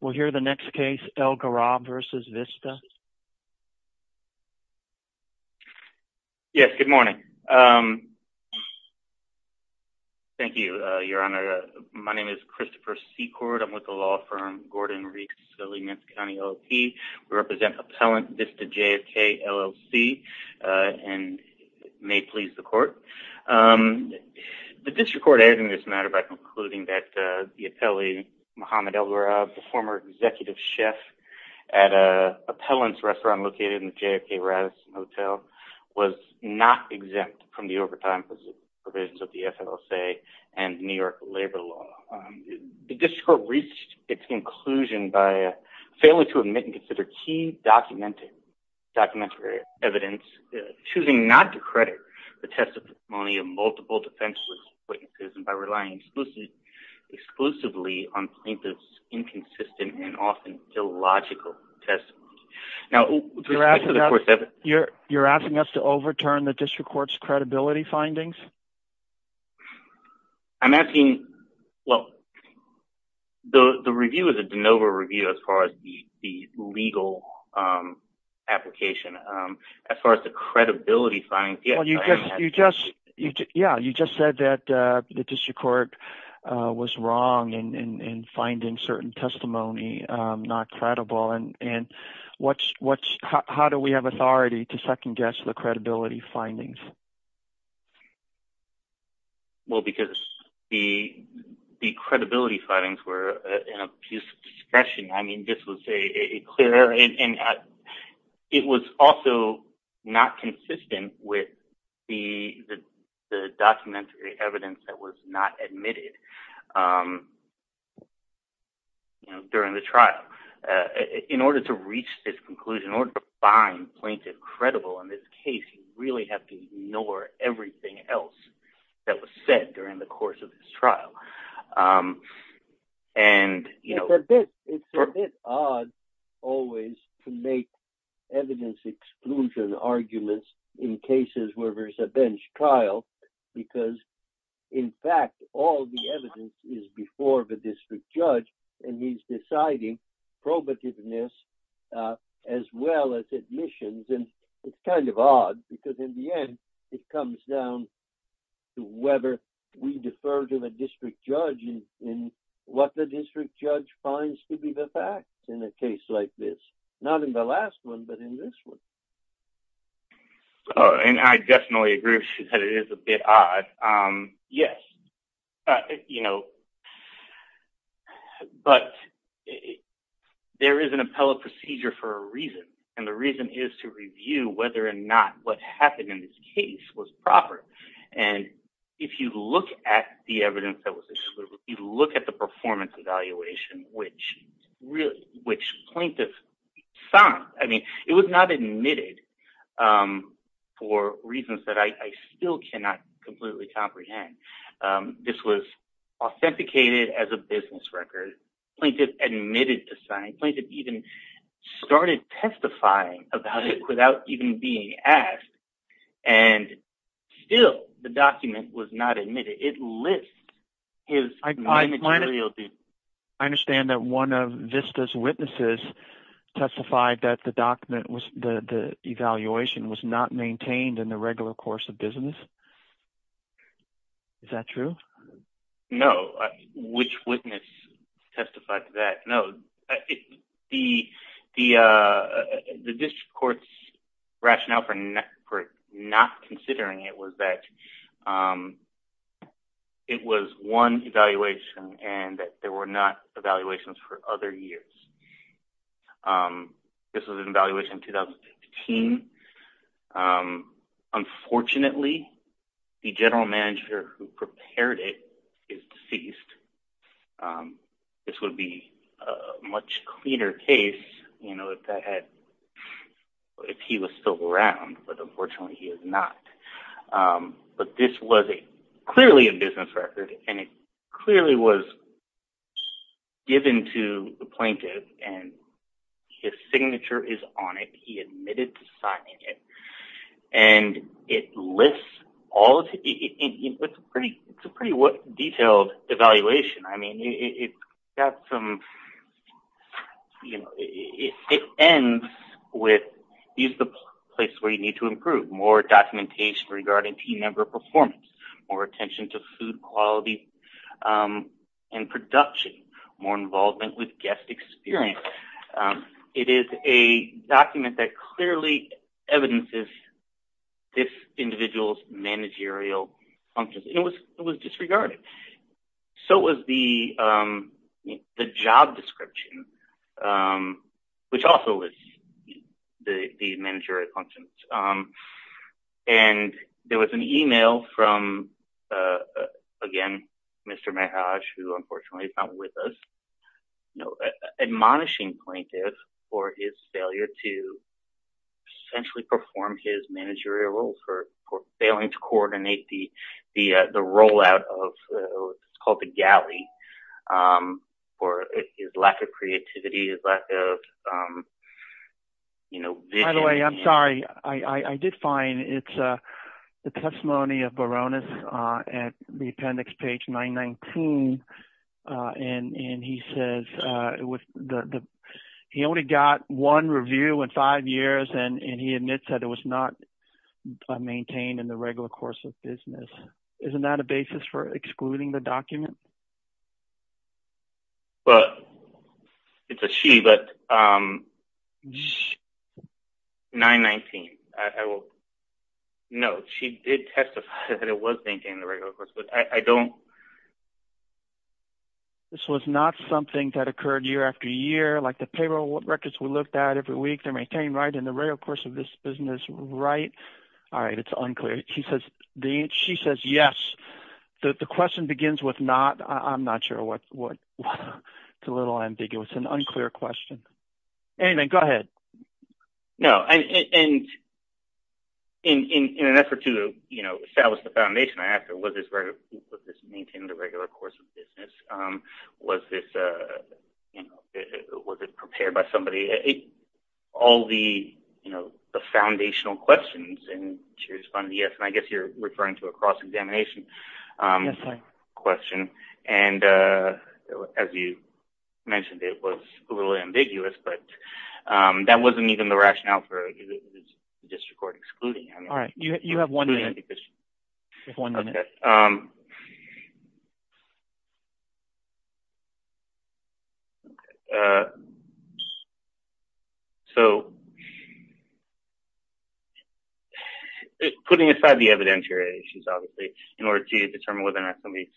We'll hear the next case, Elghourab v. Vista. Yes, good morning. Thank you, Your Honor. My name is Christopher Secord. I'm with the law firm Gordon-Reeves, Philly, Minnesota County, LLP. We represent Appellant Vista JFK, LLC and may please the Court. The district court added to this matter by concluding that the appellee, Muhammad Elghourab, the former executive chef at an appellant's restaurant located in the JFK Radisson Hotel, was not exempt from the overtime provisions of the FLSA and New York labor law. The district court reached its conclusion by failing to admit and consider key documentary evidence, choosing not to credit the testimony of multiple defenseless witnesses and by relying exclusively on plaintiff's inconsistent and often illogical testimony. Now, you're asking us to overturn the district court's credibility findings? I'm asking, well, the review is a de novo review as far as the legal application. As far as the credibility findings, yes. You just said that the district court was wrong in finding certain testimony not credible. How do we have authority to second-guess the credibility findings? Well, because the credibility findings were an abuse of discretion. It was also not consistent with the documentary evidence that was not admitted during the trial. In order to reach this conclusion, in order to find plaintiff credible in this case, you really have to ignore everything else that was said during the course of this trial. It's a bit odd always to make evidence exclusion arguments in cases where there's a bench trial because, in fact, all the evidence is before the district judge and he's deciding probativeness as well as admissions. It's kind of odd because, in the end, it comes down to whether we defer to the district judge in what the district judge finds to be the fact in a case like this. Not in the last one, but in this one. I definitely agree with you that it is a bit odd. Yes. But there is an appellate procedure for a reason, and the reason is to review whether or not what happened in this case was proper. If you look at the evidence that was excluded, if you look at the performance evaluation, which plaintiff signed, it was not admitted for reasons that I still cannot completely comprehend. This was authenticated as a business record. Plaintiff admitted to signing. Plaintiff even started testifying about it without even being asked, and still the document was not admitted. It lists his managerial duties. I understand that one of VISTA's witnesses testified that the evaluation was not maintained in the regular course of business. Is that true? No. Which witness testified to that? No. The district court's rationale for not considering it was that it was one evaluation and that there were not evaluations for other years. This was an evaluation in 2015. Unfortunately, the general manager who prepared it is deceased. This would be a much cleaner case if he was still around, but unfortunately he is not. This was clearly a business record, and it clearly was given to the plaintiff, and his signature is on it. He admitted to signing it. It's a pretty detailed evaluation. It ends with, this is the place where you need to improve. More documentation regarding team member performance. More attention to food quality and production. More involvement with guest experience. It is a document that clearly evidences this individual's managerial functions. It was disregarded. So was the job description, which also lists the managerial functions. There was an email from, again, Mr. Mehaj, who unfortunately is not with us. An admonishing plaintiff for his failure to essentially perform his managerial roles, for failing to coordinate the rollout of what is called the galley, for his lack of creativity, his lack of vision. By the way, I'm sorry. I did find the testimony of Baroness at the appendix page 919, and he says he only got one review in five years, and he admits that it was not maintained in the regular course of business. Isn't that a basis for excluding the document? Well, it's a she, but 919. No, she did testify that it was maintained in the regular course, but I don't. This was not something that occurred year after year, like the payroll records we looked at every week. They're maintained right in the regular course of this business, right? All right. It's unclear. She says yes. The question begins with not. I'm not sure what – it's a little ambiguous and unclear question. Anyway, go ahead. No, and in an effort to establish the foundation, I asked her, was this maintained in the regular course of business? Was this – was it prepared by somebody? All the foundational questions, and she responded yes. I guess you're referring to a cross-examination question, and as you mentioned, it was a little ambiguous, but that wasn't even the rationale for district court excluding. All right. You have one minute. Just one minute. Okay. Putting aside the evidentiaries, obviously, in order to determine whether or not somebody is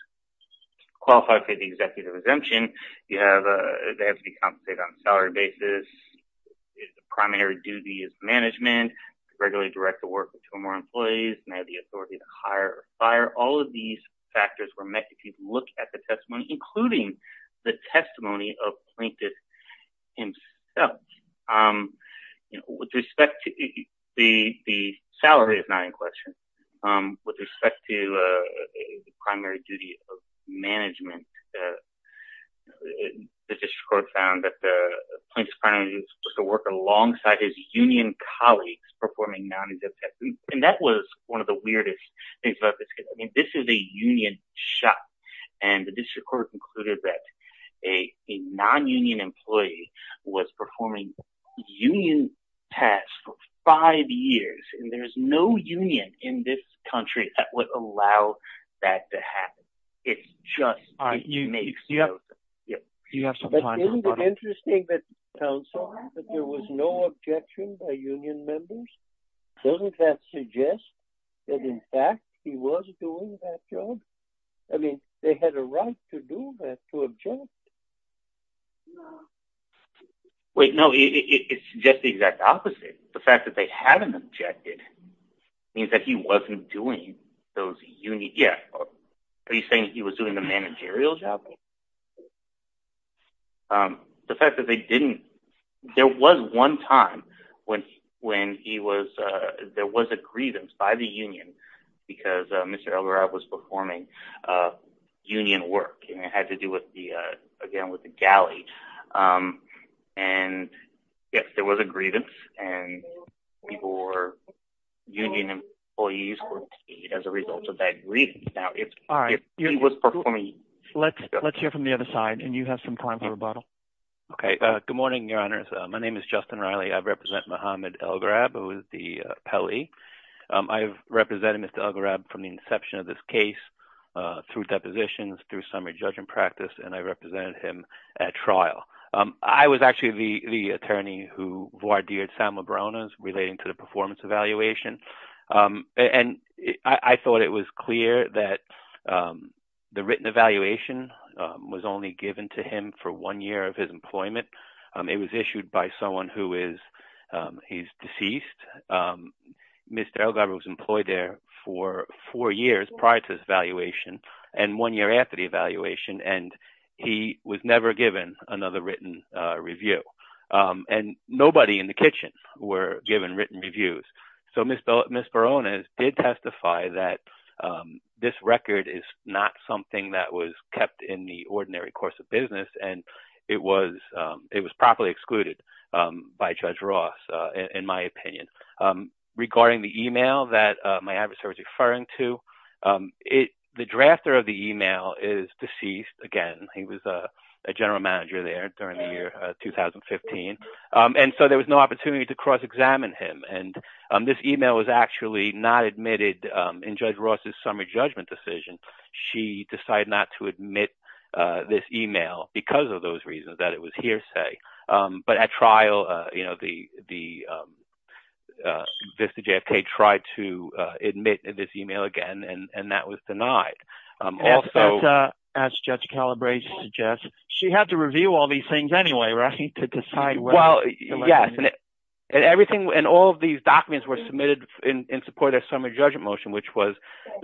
qualified for the executive exemption, they have to be compensated on a salary basis. Their primary duty is management, regularly direct the work of two or more employees, and they have the authority to hire or fire. All of these factors were met if you look at the testimony, including the testimony of Plaintiff himself. With respect to – the salary is not in question. With respect to the primary duty of management, the district court found that the plaintiff's primary duty was to work alongside his union colleagues performing non-exemptive tests, and that was one of the weirdest things about this case. I mean, this is a union shop, and the district court concluded that a non-union employee was performing union tests for five years, and there's no union in this country that would allow that to happen. It's just – But isn't it interesting that there was no objection by union members? Doesn't that suggest that in fact he was doing that job? I mean, they had a right to do that, to object. Wait, no, it's just the exact opposite. The fact that they haven't objected means that he wasn't doing those union – yeah, are you saying he was doing the managerial job? The fact that they didn't – There was one time when he was – there was a grievance by the union because Mr. Elgarov was performing union work, and it had to do with the – again, with the galley. And yes, there was a grievance, and people were – union employees were paid as a result of that grievance. Now, if he was performing – Let's hear from the other side, and you have some time for rebuttal. Okay, good morning, Your Honors. My name is Justin Riley. I represent Mohamed Elgarab, who is the appellee. I have represented Mr. Elgarab from the inception of this case, through depositions, through summary judge and practice, and I represented him at trial. I was actually the attorney who voir dired Sam Lebrunas relating to the performance evaluation, and I thought it was clear that the written evaluation was only given to him for one year of his employment. It was issued by someone who is – he's deceased. Mr. Elgarab was employed there for four years prior to this evaluation, and one year after the evaluation, and he was never given another written review. And nobody in the kitchen were given written reviews. So Ms. Barones did testify that this record is not something that was kept in the ordinary course of business, and it was properly excluded by Judge Ross, in my opinion. Regarding the email that my adversary was referring to, the drafter of the email is deceased. Again, he was a general manager there during the year 2015, and so there was no opportunity to cross-examine him. And this email was actually not admitted in Judge Ross' summary judgment decision. She decided not to admit this email because of those reasons, that it was hearsay. But at trial, the VISTA-JFK tried to admit this email again, and that was denied. Also – As Judge Calabrese suggests, she had to review all these things anyway, right, to decide whether – Well, yes. And all of these documents were submitted in support of the summary judgment motion, which was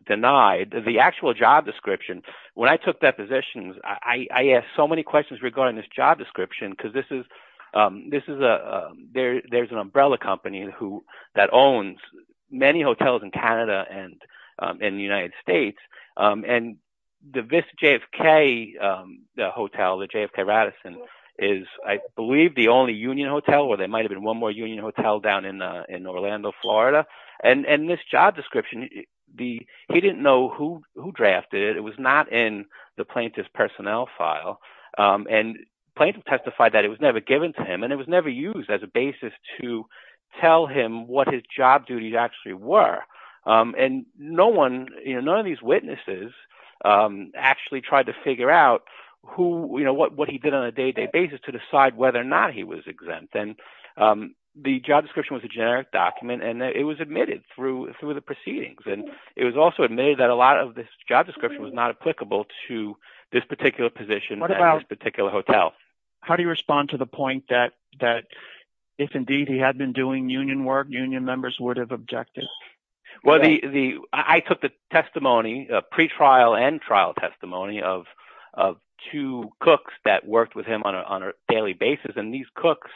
denied. The actual job description, when I took that position, I asked so many questions regarding this job description, because there's an umbrella company that owns many hotels in Canada and in the United States, and the VISTA-JFK hotel, the JFK Radisson, is, I believe, the only union hotel, or there might have been one more union hotel down in Orlando, Florida. And this job description, he didn't know who drafted it. It was not in the plaintiff's personnel file. And the plaintiff testified that it was never given to him, and it was never used as a basis to tell him what his job duties actually were. And none of these witnesses actually tried to figure out what he did on a day-to-day basis to decide whether or not he was exempt. And the job description was a generic document, and it was admitted through the proceedings. And it was also admitted that a lot of this job description was not applicable to this particular position at this particular hotel. How do you respond to the point that if, indeed, he had been doing union work, union members would have objected? Well, I took the testimony, pre-trial and trial testimony, of two cooks that worked with him on a daily basis, and these cooks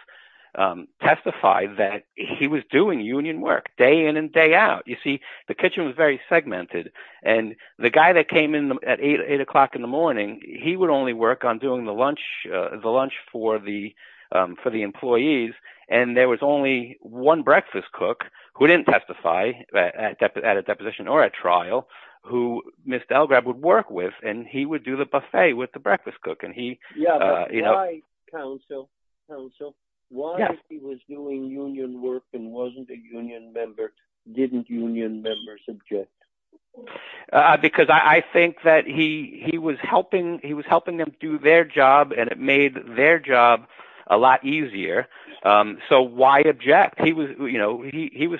testified that he was doing union work day in and day out. You see, the kitchen was very segmented, and the guy that came in at 8 o'clock in the morning, he would only work on doing the lunch for the employees, and there was only one breakfast cook who didn't testify at a deposition or a trial who Ms. Delgrad would work with, and he would do the buffet with the breakfast cook. Yeah, but why, counsel, why if he was doing union work and wasn't a union member, didn't union members object? Because I think that he was helping them do their job, and it made their job a lot easier. So why object? He was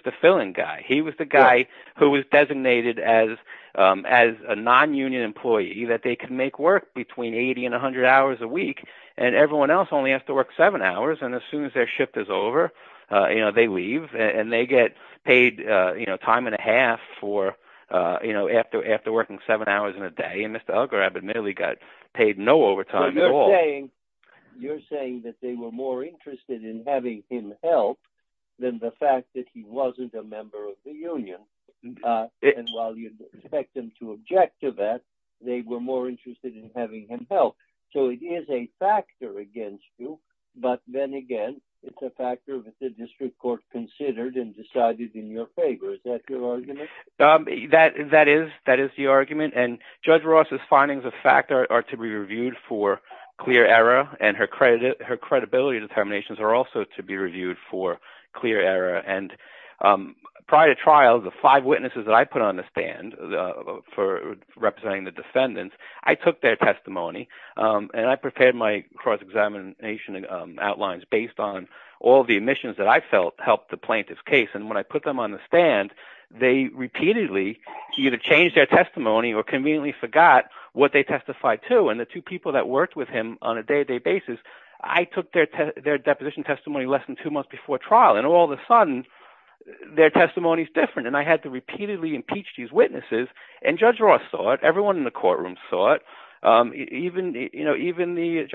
the filling guy. He was the guy who was designated as a non-union employee, that they could make work between 80 and 100 hours a week, and everyone else only has to work seven hours, and as soon as their shift is over, they leave, and they get paid time and a half after working seven hours in a day, and Ms. Delgrad admittedly got paid no overtime at all. So you're saying that they were more interested in having him help than the fact that he wasn't a member of the union, and while you expect them to object to that, they were more interested in having him help. So it is a factor against you, but then again, it's a factor that the district court considered and decided in your favor. Is that your argument? That is the argument, and Judge Ross's findings of fact are to be reviewed for clear error, and her credibility determinations are also to be reviewed for clear error, and prior to trial, the five witnesses that I put on the stand for representing the defendants, I took their testimony, and I prepared my cross-examination outlines based on all the omissions that I felt helped the plaintiff's case, and when I put them on the stand, they repeatedly either changed their testimony or conveniently forgot what they testified to, and the two people that worked with him on a day-to-day basis, I took their deposition testimony less than two months before trial, and all of a sudden, their testimony is different, and I had to repeatedly impeach these witnesses, and Judge Ross saw it, everyone in the courtroom saw it, even the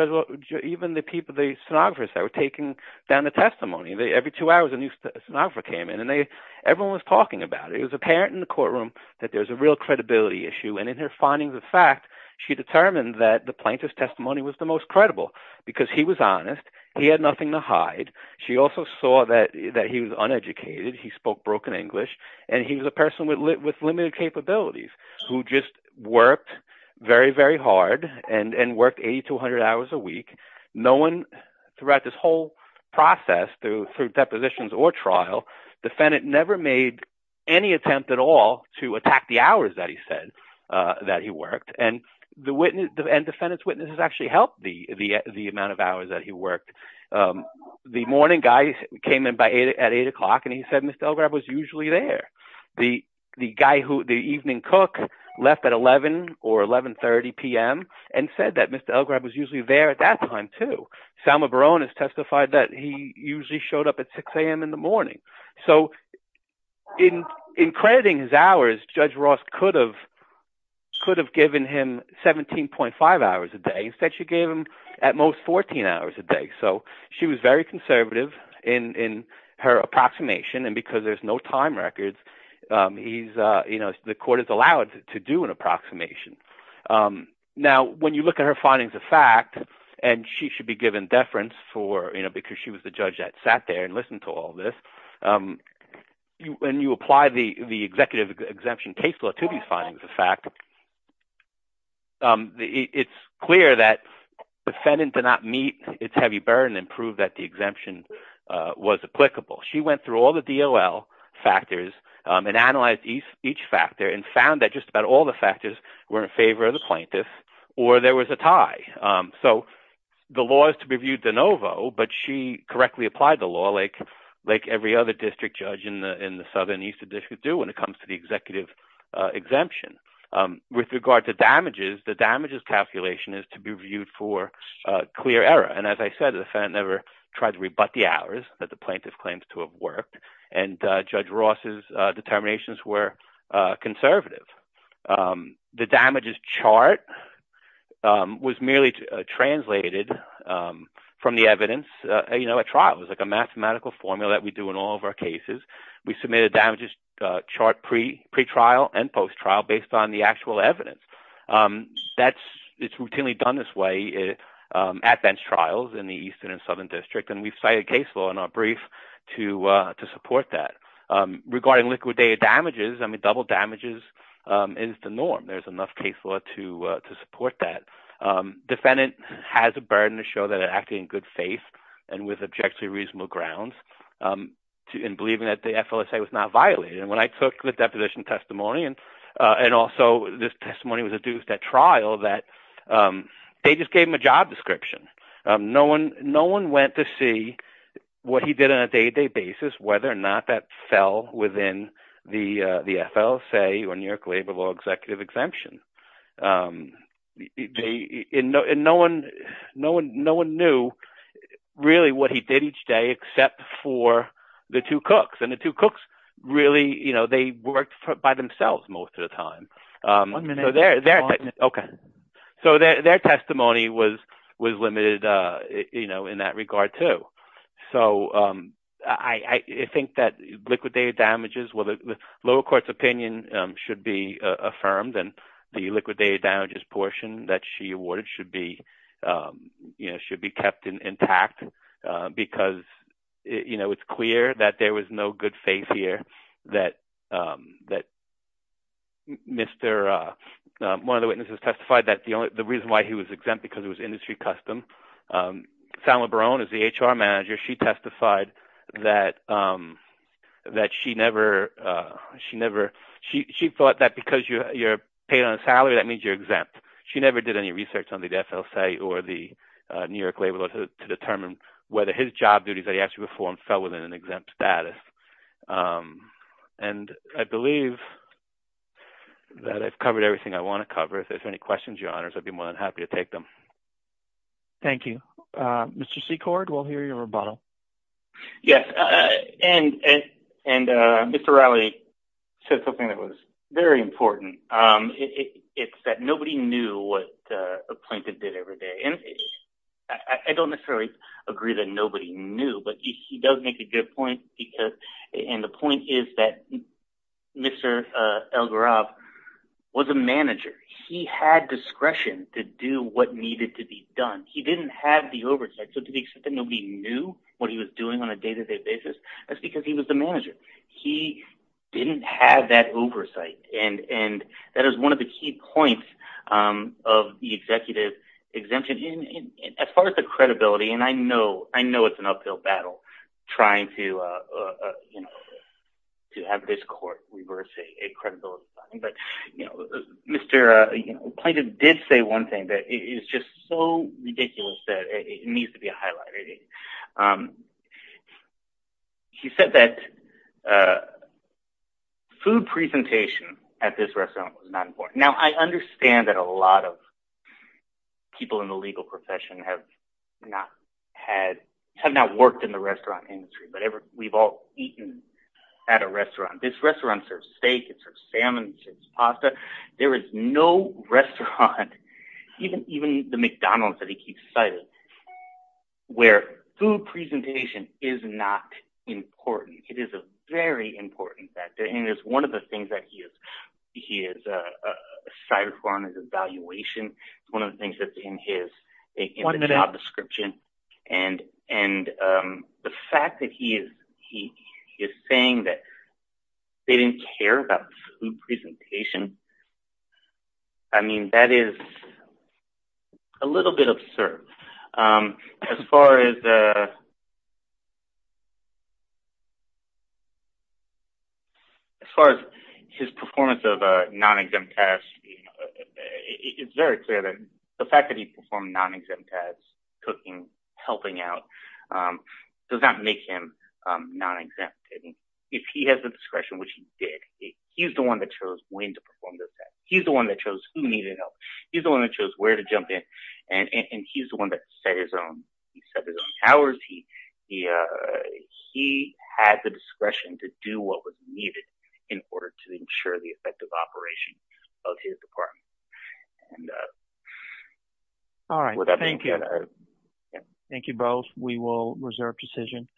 stenographers that were taking down the testimony. Every two hours, a new stenographer came in, and everyone was talking about it. It was apparent in the courtroom that there was a real credibility issue, and in her findings of fact, she determined that the plaintiff's testimony was the most credible because he was honest, he had nothing to hide, she also saw that he was uneducated, he spoke broken English, and he was a person with limited capabilities who just worked very, very hard and worked 80 to 100 hours a week, knowing throughout this whole process through depositions or trial, the defendant never made any attempt at all to attack the hours that he said that he worked, and defendants' witnesses actually helped the amount of hours that he worked. The morning guy came in at 8 o'clock, and he said Mr. Elgrab was usually there. The evening cook left at 11 or 11.30 p.m. and said that Mr. Elgrab was usually there at that time, too. Selma Barone has testified that he usually showed up at 6 a.m. in the morning. So in crediting his hours, Judge Ross could have given him 17.5 hours a day. Instead, she gave him at most 14 hours a day. So she was very conservative in her approximation, and because there's no time records, the court is allowed to do an approximation. Now when you look at her findings of fact, and she should be given deference because she was the judge that sat there and listened to all this. When you apply the executive exemption case law to these findings of fact, it's clear that defendant did not meet its heavy burden and prove that the exemption was applicable. She went through all the DOL factors and analyzed each factor and found that just about all the factors were in favor of the plaintiff or there was a tie. So the law is to be viewed de novo, but she correctly applied the law like every other district judge in the southern eastern district do when it comes to the executive exemption. With regard to damages, the damages calculation is to be viewed for clear error, and as I said, the defendant never tried to rebut the hours that the plaintiff claims to have worked, and Judge Ross's determinations were conservative. The damages chart was merely translated from the evidence at trial. It was like a mathematical formula that we do in all of our cases. We submit a damages chart pre-trial and post-trial based on the actual evidence. It's routinely done this way at bench trials in the eastern and southern district, and we've cited case law in our brief to support that. Regarding liquidated damages, I mean double damages is the norm. There's enough case law to support that. Defendant has a burden to show that they're acting in good faith and with objectively reasonable grounds in believing that the FLSA was not violated. When I took the deposition testimony, and also this testimony was adduced at trial, that they just gave him a job description. No one went to see what he did on a day-to-day basis, whether or not that fell within the FLSA or New York Labor Law Executive Exemption. No one knew really what he did each day except for the two cooks, and the two cooks really worked by themselves most of the time. Their testimony was limited in that regard too. I think that liquidated damages, the lower court's opinion should be affirmed, and the liquidated damages portion that she awarded should be kept intact because it's clear that there was no good faith here. One of the witnesses testified that the reason why he was exempt was because it was industry custom. San LeBaron is the HR manager. She testified that she thought that because you're paid on a salary, that means you're exempt. She never did any research on the FLSA or the New York Labor Law to determine whether his job duties that he actually performed fell within an exempt status. I believe that I've covered everything I want to cover. If there's any questions, your honors, I'd be more than happy to take them. Thank you. Mr. Secord, we'll hear your rebuttal. Yes. Mr. Riley said something that was very important. It's that nobody knew what a plaintiff did every day. I don't necessarily agree that nobody knew, but he does make a good point. The point is that Mr. Elgarov was a manager. He had discretion to do what needed to be done. He didn't have the oversight, so to the extent that nobody knew what he was doing on a day-to-day basis, that's because he was the manager. He didn't have that oversight, and that is one of the key points of the executive exemption. As far as the credibility, and I know it's an uphill battle trying to have this court reverse a credibility finding, but Mr. Plaintiff did say one thing that is just so ridiculous that it needs to be highlighted. He said that food presentation at this restaurant was not important. Now, I understand that a lot of people in the legal profession have not worked in the restaurant industry, but we've all eaten at a restaurant. This restaurant serves steak, it serves salmon, it serves pasta. There is no restaurant, even the McDonald's that he keeps citing, where food presentation is not important. It is a very important factor, and it is one of the things that he has cited for on his evaluation. It's one of the things that's in his job description. The fact that he is saying that they didn't care about food presentation, I mean, that is a little bit absurd. As far as his performance of non-exempt tasks, it's very clear that the fact that he performed non-exempt tasks, cooking, helping out, does not make him non-exempt. If he has the discretion, which he did, he's the one that chose when to perform those tasks. He's the one that chose who needed help. He's the one that chose where to jump in, and he's the one that set his own hours. He had the discretion to do what was needed in order to ensure the effective operation of his department. Thank you both. We will reserve decision.